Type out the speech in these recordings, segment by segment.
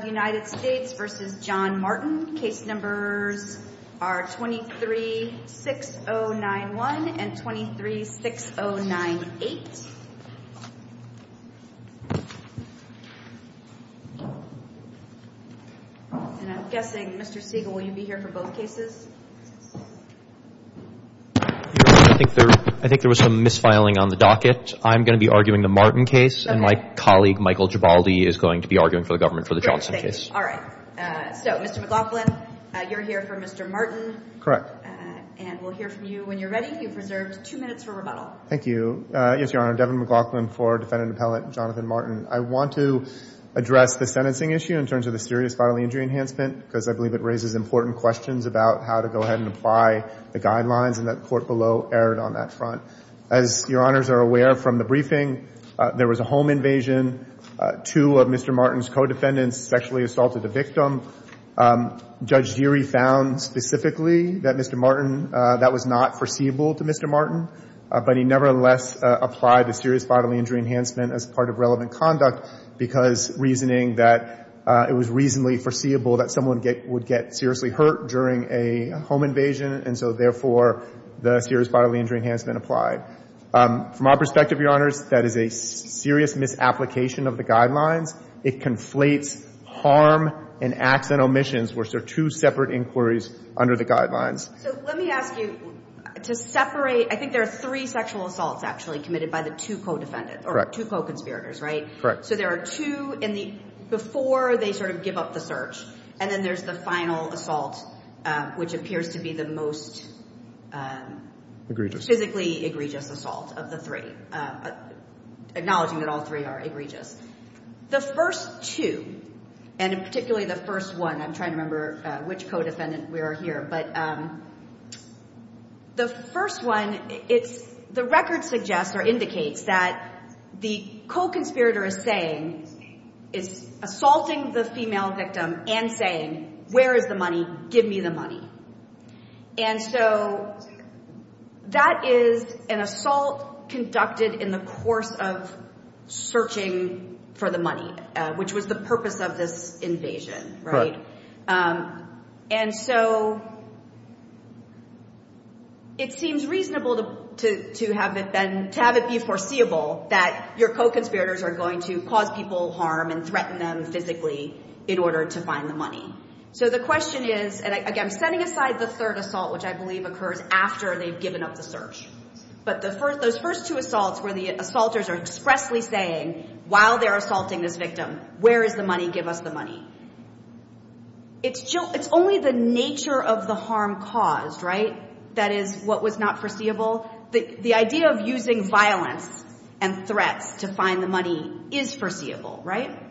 236091 and 236098. I'm guessing Mr. Siegel, will you be here for both cases? I think there was some misfiling on the docket. I'm going to be arguing the Martin case and my colleague Michael Gibaldi is going to be arguing for the Johnson case. I want to address the sentencing issue in terms of the serious bodily injury enhancement because I believe it raises important questions about how to go ahead and apply the guidelines and that the court below erred on that front. As your honors are aware from the briefing, there was a home invasion, two of Mr. Martin's co-defendants sexually assaulted the victim. Judge Geary found specifically that Mr. Martin, that was not foreseeable to Mr. Martin, but he nevertheless applied the serious bodily injury enhancement as part of relevant conduct because reasoning that it was reasonably foreseeable that someone would get seriously hurt during a home invasion and so therefore the serious bodily injury enhancement applied. From our perspective, your honors, that is a serious misapplication of the guidelines. It conflates harm and acts and omissions, which are two separate inquiries under the guidelines. So let me ask you to separate, I think there are three sexual assaults actually committed by the two co-defendants or two co-conspirators, right? Correct. So there are two in the, before they sort of give up the search, and then there's the final assault, which appears to be the most physically egregious assault of the three. Acknowledging that all three are egregious. The first two, and particularly the first one, I'm trying to remember which co-defendant we are here, but the first one, it's the record suggests or indicates that the co-conspirator is saying, is assaulting the female victim and saying, where is the money? Give me the money. And so that is an assault conducted in the course of searching for the money, which was the purpose of this invasion, right? And so it seems reasonable to have it be foreseeable that your co-conspirators are going to cause people harm and threaten them physically in order to find the money. So the question is, and again, I'm setting aside the third assault, which I believe occurs after they've given up the search. But the first, those first two assaults where the assaulters are expressly saying, while they're assaulting this victim, where is the money? Give us the money. It's only the nature of the harm caused, right? That is what was not foreseeable. The idea of using violence and threats to find the money is foreseeable, right?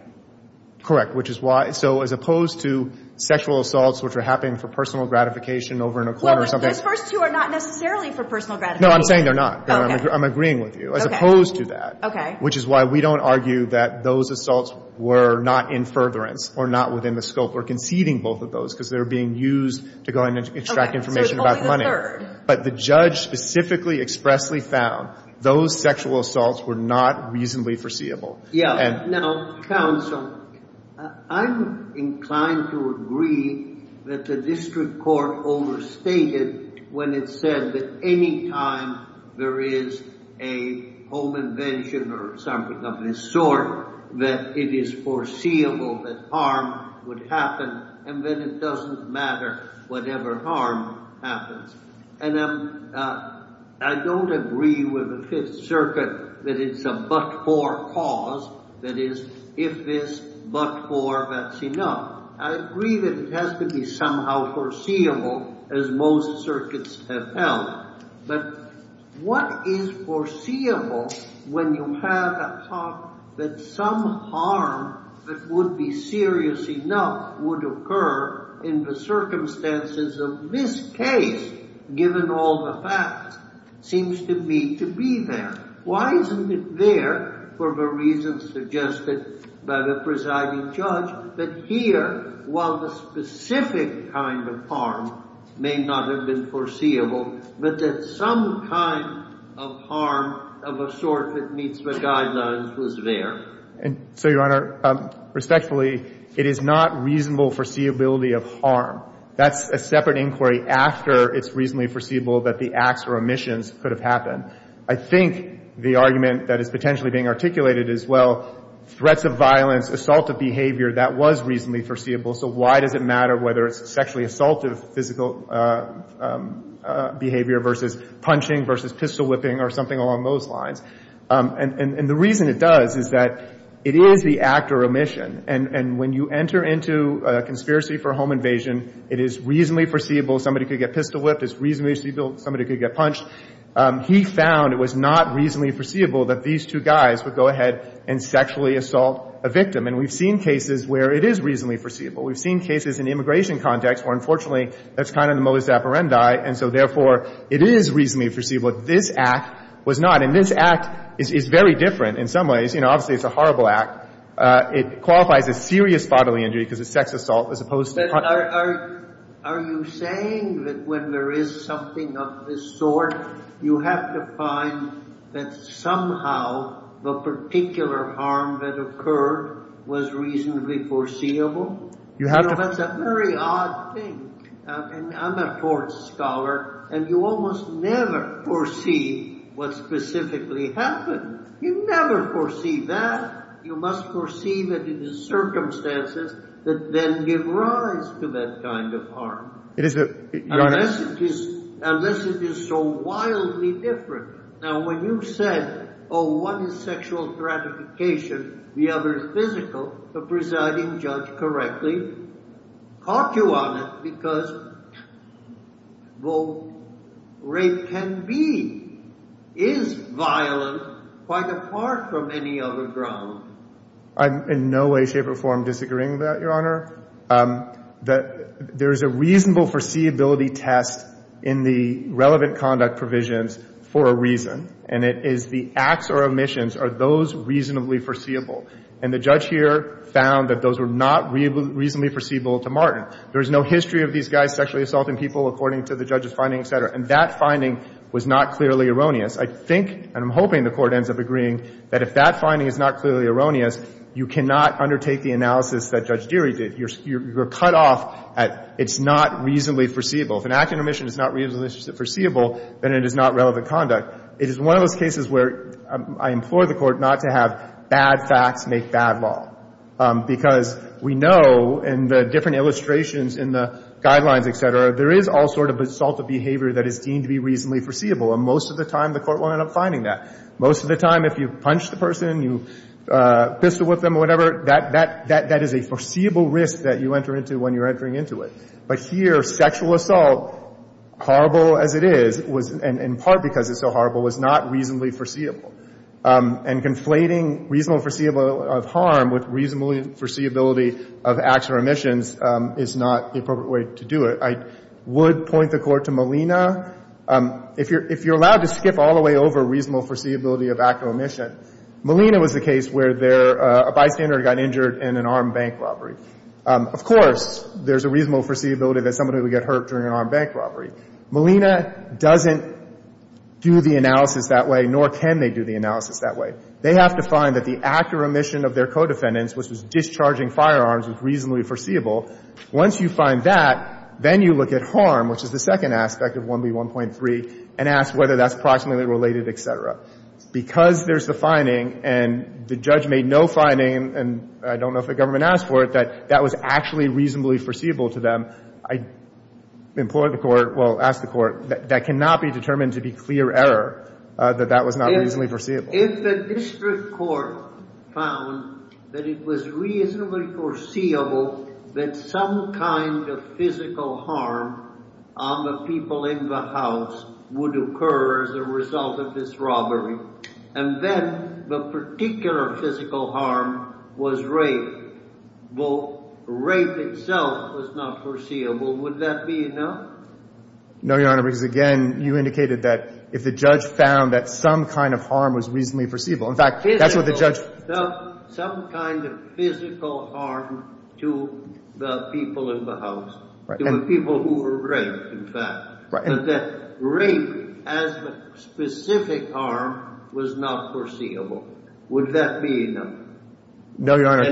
Correct. Which is why, so as opposed to sexual assaults, which are happening for personal gratification over in a corner or something. Well, those first two are not necessarily for personal gratification. No, I'm saying they're not. Okay. I'm agreeing with you. Okay. As opposed to that. Okay. Which is why we don't argue that those assaults were not in furtherance or not within the scope or conceding both of those because they're being used to go ahead and extract information about the money. Okay. So it's only the third. But the judge specifically expressly found those sexual assaults were not reasonably foreseeable. Yeah. Now, counsel, I'm inclined to agree that the district court overstated when it said that any time there is a home invention or something of this sort, that it is foreseeable that harm would happen and that it doesn't matter whatever harm happens. And I don't agree with the Fifth Circuit that it's a but-for cause. That is, if it's but-for, that's enough. I agree that it has to be somehow foreseeable as most circuits have held. But what is foreseeable when you have a thought that some harm that would be serious enough would occur in the circumstances of this case, given all the facts, seems to be to be there. Why isn't it there? For the reasons suggested by the presiding judge, that here, while the specific kind of harm may not have been foreseeable, but that some kind of harm of a sort that meets the guidelines was there. And so, Your Honor, respectfully, it is not reasonable foreseeability of harm. That's a separate inquiry after it's reasonably foreseeable that the acts or omissions could have happened. I think the argument that is potentially being articulated is, well, threats of violence, assaultive behavior, that was reasonably foreseeable. So why does it matter whether it's sexually assaultive physical behavior versus punching versus pistol whipping or something along those lines? And the reason it does is that it is the act or omission. And when you enter into a conspiracy for a home invasion, it is reasonably foreseeable somebody could get pistol whipped. It's reasonably foreseeable somebody could get punched. He found it was not reasonably foreseeable that these two guys would go ahead and sexually assault a victim. And we've seen cases where it is reasonably foreseeable. We've seen cases in the immigration context where, unfortunately, that's kind of the modus operandi. And so, therefore, it is reasonably foreseeable that this act was not. And this act is very different in some ways. You know, obviously, it's a horrible act. It qualifies as serious bodily injury because it's sex assault, as opposed to Are you saying that when there is something of this sort, you have to find that somehow the particular harm that occurred was reasonably foreseeable? You know, that's a very odd thing. I'm a tort scholar, and you almost never foresee what specifically happened. You never foresee that. You must foresee that it is circumstances that then give rise to that kind of harm. Unless it is so wildly different. Now, when you said, oh, one is sexual gratification, the other is physical, the presiding judge correctly caught you on it because though rape can be, is violent, quite apart from any other ground. I'm in no way, shape, or form disagreeing with that, Your Honor. That there is a reasonable foreseeability test in the relevant conduct provisions for a reason. And it is the acts or omissions are those reasonably foreseeable. And the judge here found that those were not reasonably foreseeable to Martin. There is no history of these guys sexually assaulting people, according to the judge's finding, et cetera. And that finding was not clearly erroneous. I think, and I'm hoping the Court ends up agreeing, that if that finding is not clearly erroneous, you cannot undertake the analysis that Judge Deery did. You're cut off at it's not reasonably foreseeable. If an act of omission is not reasonably foreseeable, then it is not relevant conduct. It is one of those cases where I implore the Court not to have bad facts make bad law. Because we know in the different illustrations in the guidelines, et cetera, there is all sort of assaultive behavior that is deemed to be reasonably foreseeable. And most of the time, the Court won't end up finding that. Most of the time, if you punch the person, you pistol whip them or whatever, that is a foreseeable risk that you enter into when you're entering into it. But here, sexual assault, horrible as it is, and in part because it's so horrible, was not reasonably foreseeable. And conflating reasonable foreseeable of harm with reasonable foreseeability of acts or omissions is not the appropriate way to do it. I would point the Court to Molina. If you're allowed to skip all the way over reasonable foreseeability of act or omission, Molina was the case where a bystander got injured in an armed bank robbery. Of course, there's a reasonable foreseeability that somebody would get hurt during an armed bank robbery. Molina doesn't do the analysis that way, nor can they do the analysis that way. They have to find that the act or omission of their co-defendants, which was discharging firearms, was reasonably foreseeable. Once you find that, then you look at harm, which is the second aspect of 1B1.3, and ask whether that's proximately related, et cetera. Because there's the finding, and the judge made no finding, and I don't know if the government asked for it, that that was actually reasonably foreseeable to them, I implore the Court, well, ask the Court, that that cannot be determined to be clear error, that that was not reasonably foreseeable. If the district court found that it was reasonably foreseeable that some kind of physical harm on the people in the house would occur as a result of this robbery, and then the particular physical harm was rape, though rape itself was not foreseeable, would that be enough? No, Your Honor, because, again, you indicated that if the judge found that some kind of harm was reasonably foreseeable, in fact, that's what the judge... No, Your Honor,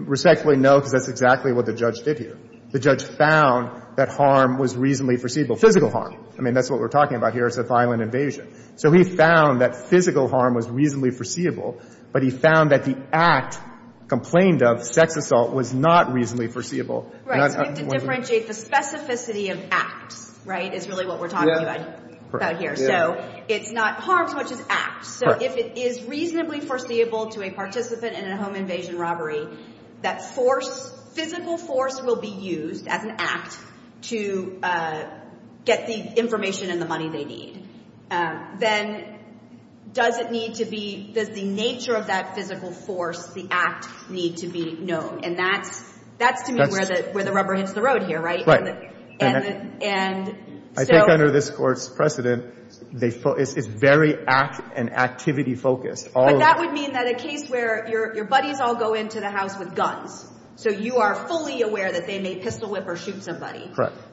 respectfully, no, because that's exactly what the judge did here. The judge found that harm was reasonably foreseeable, physical harm. I mean, that's what we're talking about here, it's a violent invasion. So he found that physical harm was reasonably foreseeable, but the act complained of, sex assault, was not reasonably foreseeable. Right, so we have to differentiate the specificity of acts, right, is really what we're talking about here. So it's not harm as much as acts. So if it is reasonably foreseeable to a participant in a home invasion robbery, that force, physical force will be used as an act to get the information and the money they need. Then does it need to be, does the nature of that physical force, the act, need to be known? And that's, to me, where the rubber hits the road here, right? Right. And I think under this Court's precedent, it's very act and activity focused. But that would mean that a case where your buddies all go into the house with guns, so you are fully aware that they may pistol whip or shoot somebody.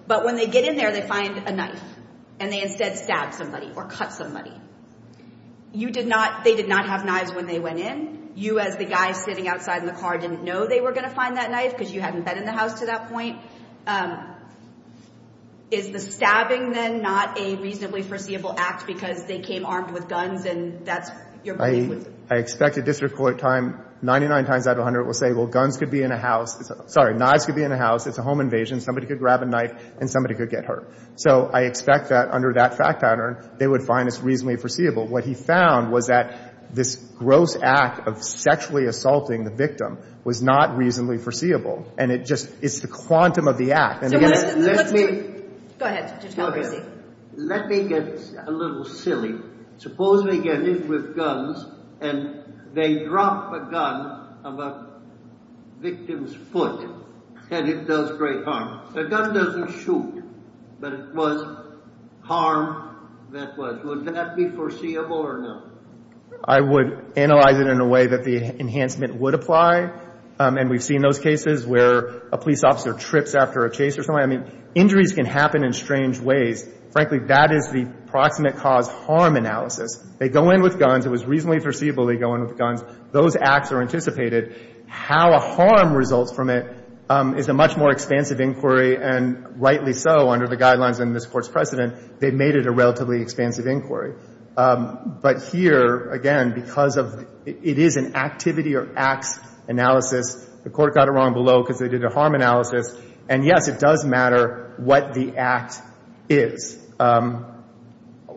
But when they get in there, they find a knife, and they instead stab somebody or cut somebody. You did not, they did not have knives when they went in. You, as the guy sitting outside in the car, didn't know they were going to find that knife because you hadn't been in the house to that point. Is the stabbing, then, not a reasonably foreseeable act because they came armed with guns and that's your buddy? I expect a district court time, 99 times out of 100, will say, well, guns could be in a house, sorry, knives could be in a house, it's a home invasion, somebody could grab a knife and somebody could get hurt. So I expect that under that fact pattern, they would find this reasonably foreseeable. What he found was that this gross act of sexually assaulting the victim was not reasonably foreseeable. And it just, it's the quantum of the act. So what's the truth? Go ahead, Judge Calabresi. Let me get a little silly. Suppose they get in with guns and they drop a gun of a victim's I would analyze it in a way that the enhancement would apply. And we've seen those cases where a police officer trips after a chase or something. I mean, injuries can happen in strange ways. Frankly, that is the proximate cause harm analysis. They go in with guns, it was reasonably foreseeable, they go in with guns. Those acts are anticipated. How a harm results from it is a much more expansive inquiry. And rightly so, under the guidelines in this Court's precedent, they've made it a relatively expansive inquiry. But here, again, because of, it is an activity or acts analysis. The Court got it wrong below because they did a harm analysis. And yes, it does matter what the act is.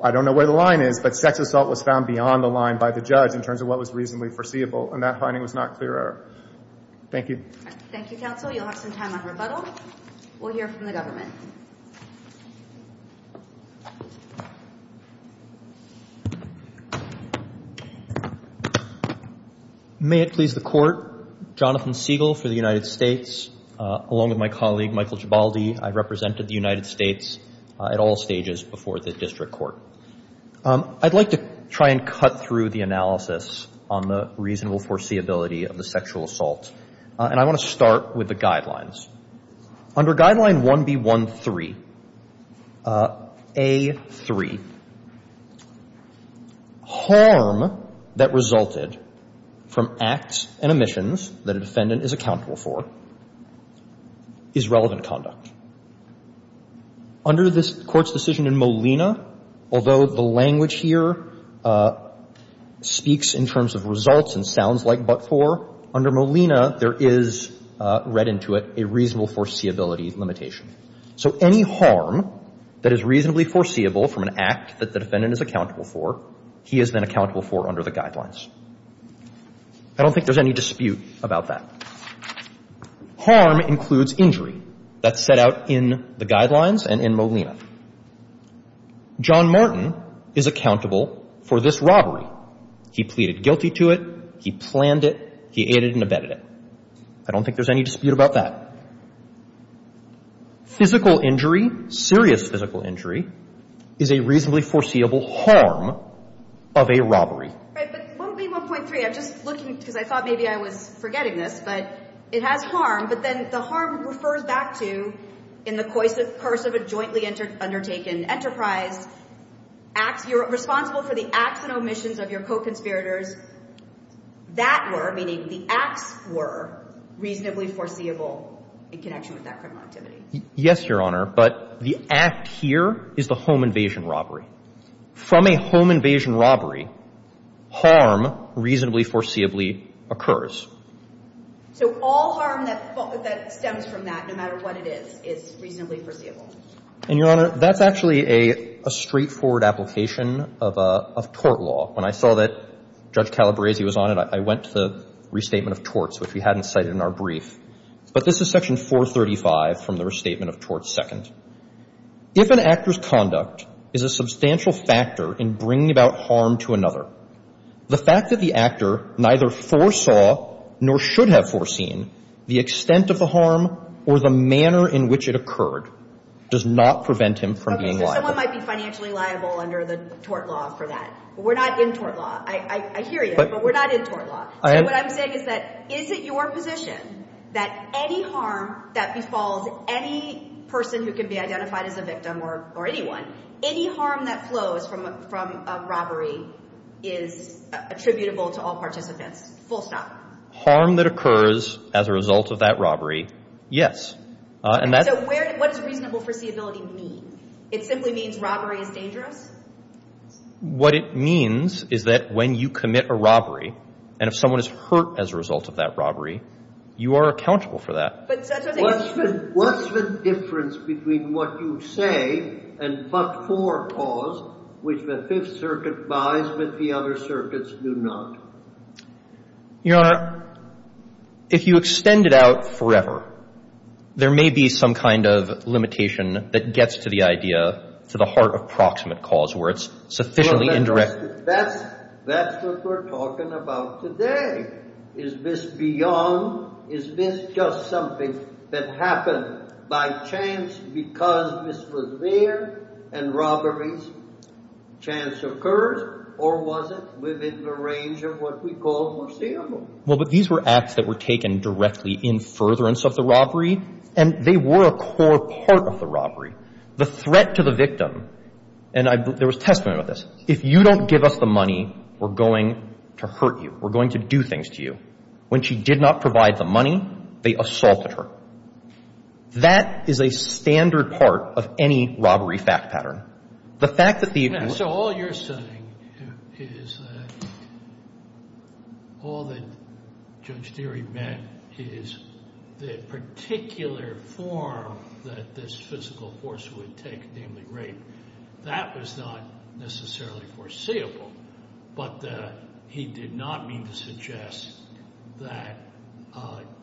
I don't know where the line is, but sex assault was found beyond the line by the judge in terms of what was reasonably foreseeable. And that finding was not clear error. Thank you. Thank you, counsel. You'll have some time on rebuttal. We'll hear from the government. May it please the Court, Jonathan Siegel for the United States, along with my colleague Michael Gibaldi. I represented the United States at all stages before the district court. I'd like to try and cut through the analysis on the reasonable foreseeability of the sexual assault. And I want to start with the guidelines. Under Guideline 1B13A3, harm that resulted from acts and omissions that a defendant is accountable for is relevant conduct. Under this Court's decision in Molina, although the language here speaks in terms of results and sounds like but for, under Molina, there is read into it a reasonable foreseeability limitation. So any harm that is reasonably foreseeable from an act that the defendant is accountable for, he is then accountable for under the guidelines. I don't think there's any dispute about that. Harm includes injury. That's set out in the guidelines and in Molina. John Martin is accountable for this robbery. He pleaded guilty to it. He planned it. He aided and abetted it. I don't think there's any dispute about that. Physical injury, serious physical injury, is a reasonably foreseeable harm of a robbery. Right. But 1B1.3, I'm just looking because I thought maybe I was forgetting this, but it has harm. But then the harm refers back to in the coercive, coercive and jointly undertaken enterprise, acts, you're responsible for the acts and omissions of your co-conspirators. That were, meaning the acts were, reasonably foreseeable in connection with that criminal activity. Yes, Your Honor. But the act here is the home invasion robbery. From a home invasion robbery, harm reasonably foreseeably occurs. So all harm that stems from that, no matter what it is, is reasonably foreseeable. And, Your Honor, that's actually a straightforward application of tort law. When I saw that Judge Calabresi was on it, I went to the restatement of torts, which we hadn't cited in our brief. But this is section 435 from the restatement of tort second. If an actor's conduct is a substantial factor in bringing about harm to another, the fact that the actor neither foresaw nor should have foreseen the extent of the harm or the manner in which it occurred does not prevent him from being liable. Okay, so someone might be financially liable under the tort law for that. But we're not in tort law. I hear you, but we're not in tort law. So what I'm saying is that is it your position that any harm that befalls any person who can be identified as a victim or anyone, any harm that flows from a robbery is attributable to all participants, full stop? Harm that occurs as a result of that robbery, yes. So what does reasonable foreseeability mean? It simply means robbery is dangerous? What it means is that when you commit a robbery and if someone is hurt as a result of that robbery, you are accountable for that. What's the difference between what you say and but-for clause, which the Fifth Circuit buys but the other circuits do not? Your Honor, if you extend it out forever, there may be some kind of limitation that gets to the idea, to the heart of proximate cause where it's sufficiently indirect. That's what we're talking about today. Is this beyond, is this just something that happened by chance because this was there and robbery's chance occurs? Or was it within the range of what we call foreseeable? Well, but these were acts that were taken directly in furtherance of the robbery, and they were a core part of the robbery. The threat to the victim, and there was a testament of this, if you don't give us the money, we're going to hurt you. We're going to do things to you. When she did not provide the money, they assaulted her. That is a standard part of any robbery fact pattern. So all you're saying is that all that Judge Deary meant is the particular form that this physical force would take, namely rape. That was not necessarily foreseeable, but he did not mean to suggest that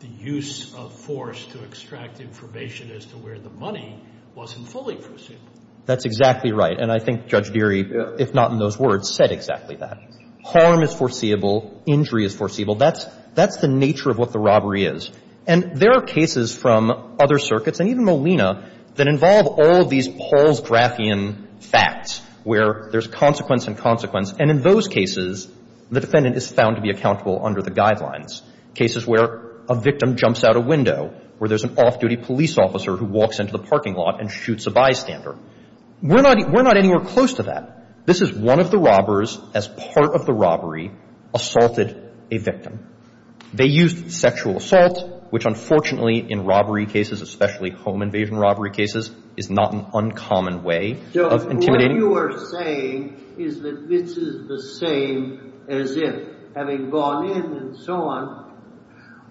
the use of force to extract information as to where the money wasn't fully foreseeable. That's exactly right. And I think Judge Deary, if not in those words, said exactly that. Harm is foreseeable. Injury is foreseeable. That's the nature of what the robbery is. And there are cases from other circuits and even Molina that involve all of these Paul's graphian facts where there's consequence and consequence. And in those cases, the defendant is found to be accountable under the guidelines, cases where a victim jumps out a window, where there's an off-duty police officer who walks into the parking lot and shoots a bystander. We're not anywhere close to that. This is one of the robbers, as part of the robbery, assaulted a victim. They used sexual assault, which unfortunately in robbery cases, especially home invasion robbery cases, is not an uncommon way of intimidating. So what you are saying is that this is the same as if, having gone in and so on,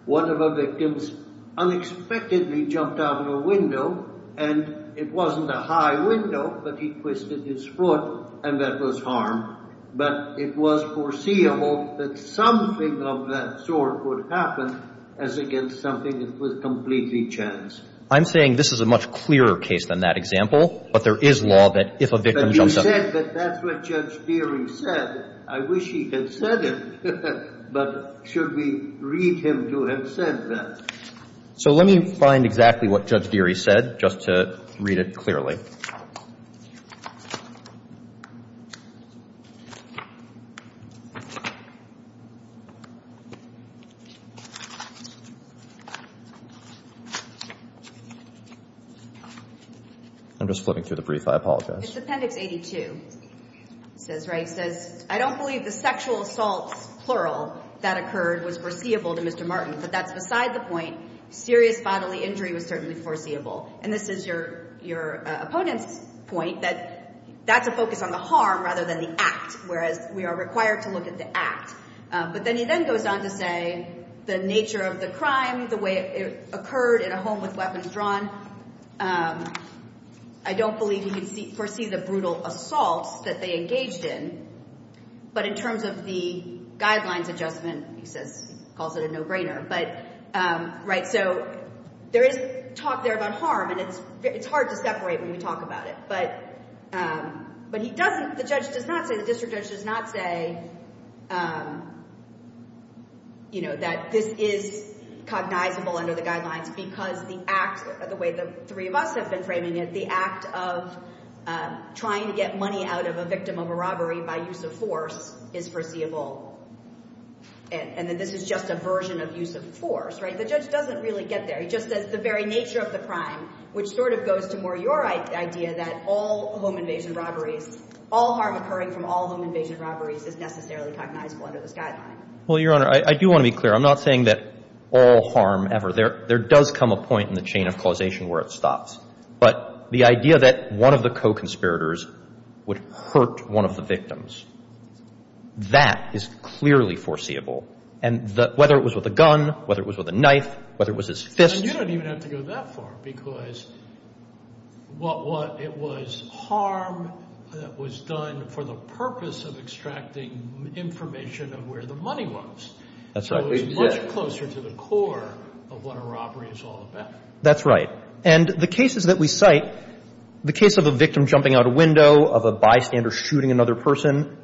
one of the victims unexpectedly jumped out of a window, and it wasn't a high window, but he twisted his foot, and that was harm. But it was foreseeable that something of that sort would happen as against something that was completely chance. I'm saying this is a much clearer case than that example, but there is law that if a victim jumps out. But you said that that's what Judge Deary said. I wish he had said it. But should we read him to have said that? So let me find exactly what Judge Deary said, just to read it clearly. I'm just flipping through the brief. I apologize. It's Appendix 82. It says, I don't believe the sexual assault, plural, that occurred was foreseeable to Mr. Martin, but that's beside the point. Serious bodily injury was certainly foreseeable. And this is your opponent's point, that that's a focus on the harm rather than the act, whereas we are required to look at the act. But then he then goes on to say the nature of the crime, the way it occurred in a home with weapons drawn, I don't believe he can foresee the brutal assault that they engaged in. But in terms of the guidelines adjustment, he calls it a no-brainer. So there is talk there about harm, and it's hard to separate when we talk about it. But the district judge does not say that this is cognizable under the guidelines because the act, the way the three of us have been framing it, the act of trying to get money out of a victim of a robbery by use of force is foreseeable, and that this is just a version of use of force. The judge doesn't really get there. He just says the very nature of the crime, which sort of goes to more your idea that all home invasion robberies, all harm occurring from all home invasion robberies is necessarily cognizable under this guideline. Well, Your Honor, I do want to be clear. I'm not saying that all harm ever. There does come a point in the chain of causation where it stops. But the idea that one of the co-conspirators would hurt one of the victims, that is clearly foreseeable. And whether it was with a gun, whether it was with a knife, whether it was his fist. And you don't even have to go that far because what it was harm that was done for the purpose of extracting information of where the money was. That's right. It was much closer to the core of what a robbery is all about. That's right. And the cases that we cite, the case of a victim jumping out a window, of a bystander shooting another person,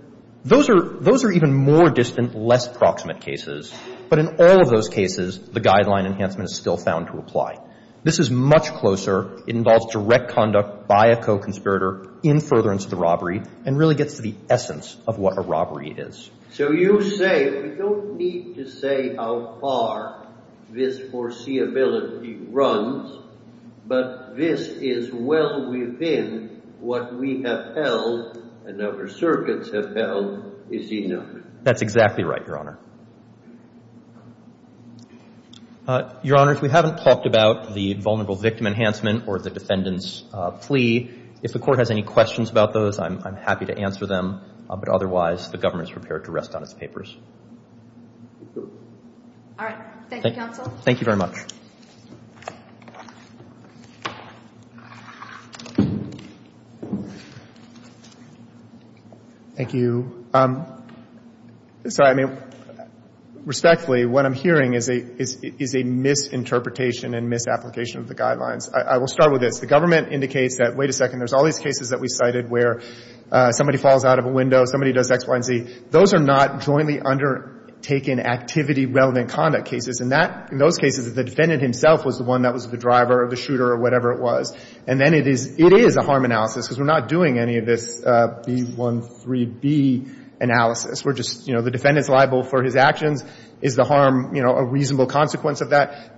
those are even more distant, less proximate cases. But in all of those cases, the guideline enhancement is still found to apply. This is much closer. It involves direct conduct by a co-conspirator in furtherance of the robbery and really gets to the essence of what a robbery is. So you say we don't need to say how far this foreseeability runs, but this is well within what we have held and other circuits have held is enough. That's exactly right, Your Honor. Your Honor, if we haven't talked about the vulnerable victim enhancement or the defendant's plea, if the Court has any questions about those, I'm happy to answer them. But otherwise, the government is prepared to rest on its papers. All right. Thank you, counsel. Thank you very much. Thank you. Sorry. I mean, respectfully, what I'm hearing is a misinterpretation and misapplication of the guidelines. I will start with this. The government indicates that, wait a second, there's all these cases that we cited where somebody falls out of a window, somebody does X, Y, and Z. Those are not jointly undertaken activity-relevant conduct cases. In that — in those cases, the defendant himself was the one that was the driver or the shooter or whatever it was. And then it is — it is a harm analysis because we're not doing any of this B-1-3-B analysis. We're just — you know, the defendant's liable for his actions. Is the harm, you know, a reasonable consequence of that?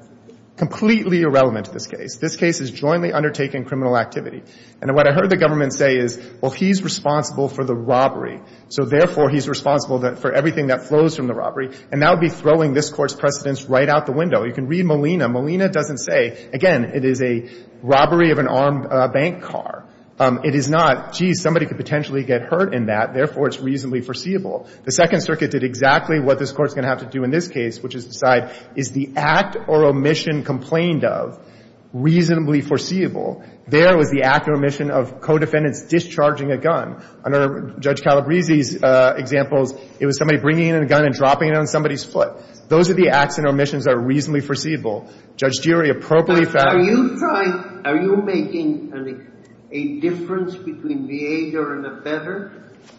Completely irrelevant to this case. This case is jointly undertaken criminal activity. And what I heard the government say is, well, he's responsible for the robbery. So therefore, he's responsible for everything that flows from the robbery. And that would be throwing this Court's precedents right out the window. You can read Molina. Molina doesn't say — again, it is a robbery of an armed bank car. It is not, geez, somebody could potentially get hurt in that, therefore it's reasonably foreseeable. The Second Circuit did exactly what this Court's going to have to do in this case, which is decide, is the act or omission complained of reasonably foreseeable? There was the act or omission of co-defendants discharging a gun. Under Judge Calabresi's examples, it was somebody bringing in a gun and dropping it on somebody's foot. Those are the acts and omissions that are reasonably foreseeable. Judge Durie appropriately found — Are you making a difference between the aider and abetter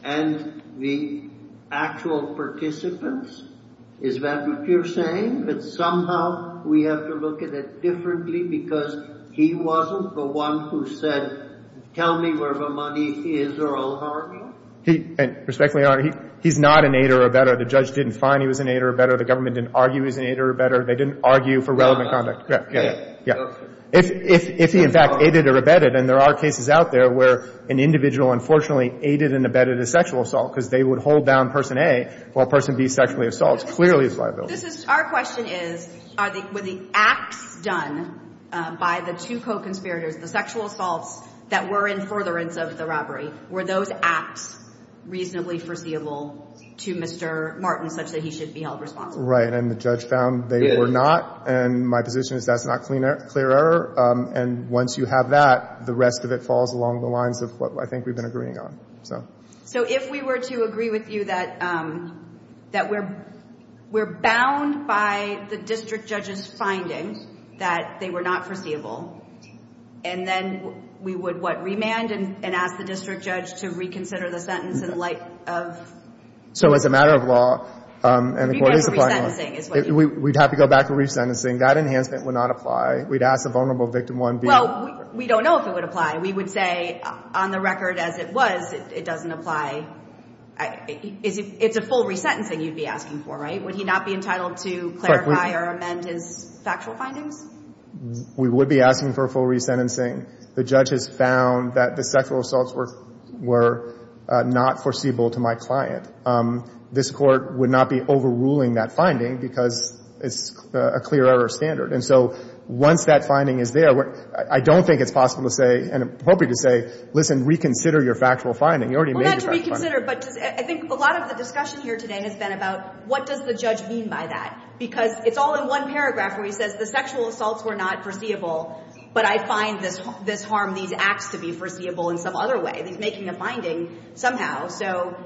and the actual participants? Is that what you're saying? That somehow we have to look at it differently because he wasn't the one who said, tell me where the money is or I'll argue? Respectfully, Your Honor, he's not an aider or abetter. The judge didn't find he was an aider or abetter. The government didn't argue he was an aider or abetter. They didn't argue for relevant conduct. Yeah, yeah, yeah. If he, in fact, aided or abetted, and there are cases out there where an individual, unfortunately, aided and abetted a sexual assault because they would hold down person A while person B sexually assaults, clearly it's liable. This is — our question is, are the — were the acts done by the two co-conspirators, the sexual assaults that were in furtherance of the robbery, were those acts reasonably foreseeable to Mr. Martin such that he should be held responsible? Right. And the judge found they were not, and my position is that's not clear error. And once you have that, the rest of it falls along the lines of what I think we've been agreeing on. So if we were to agree with you that we're bound by the district judge's findings that they were not foreseeable, and then we would, what, remand and ask the district judge to reconsider the sentence in light of — So as a matter of law. And the court is — If you go back to resentencing is what you — We'd have to go back to resentencing. That enhancement would not apply. We'd ask the vulnerable victim, one, B — Well, we don't know if it would apply. We would say on the record as it was, it doesn't apply. It's a full resentencing you'd be asking for, right? Would he not be entitled to clarify or amend his factual findings? We would be asking for a full resentencing. The judge has found that the sexual assaults were not foreseeable to my client. This Court would not be overruling that finding because it's a clear error standard. And so once that finding is there, I don't think it's possible to say, and I'm hoping to say, listen, reconsider your factual finding. You already made your factual finding. Well, not to reconsider, but I think a lot of the discussion here today has been about what does the judge mean by that? Because it's all in one paragraph where he says the sexual assaults were not foreseeable, but I find this harm these acts to be foreseeable in some other way. He's making a finding somehow.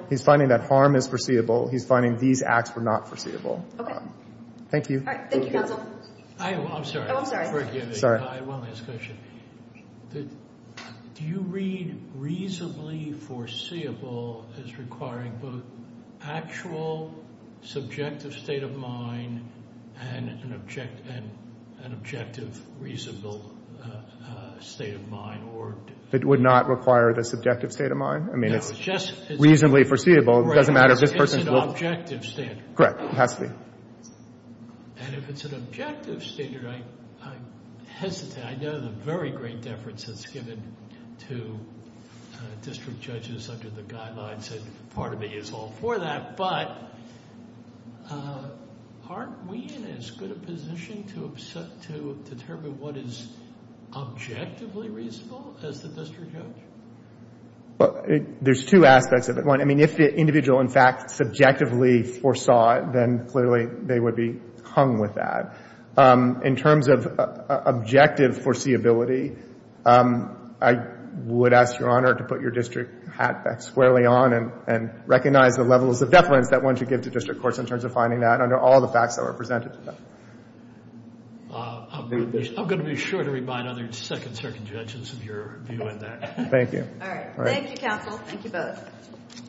He's finding that harm is foreseeable. He's finding these acts were not foreseeable. Okay. Thank you. All right. Thank you, counsel. I'm sorry. Oh, I'm sorry. Sorry. I have one last question. Do you read reasonably foreseeable as requiring both actual subjective state of mind and an objective reasonable state of mind? It would not require the subjective state of mind? I mean, it's reasonably foreseeable. It's an objective standard. Correct. It has to be. And if it's an objective standard, I'm hesitant. I know the very great deference that's given to district judges under the guidelines and part of it is all for that, but aren't we in as good a position to determine what is objectively reasonable as the district judge? There's two aspects of it. One, I mean, if the individual in fact subjectively foresaw it, then clearly they would be hung with that. In terms of objective foreseeability, I would ask Your Honor to put your district hat back squarely on and recognize the levels of deference that one should give to district courts in terms of finding that under all the facts that were presented to them. I'm going to be sure to remind other second circuit judges of your view on that. Thank you. Thank you, counsel. Thank you both.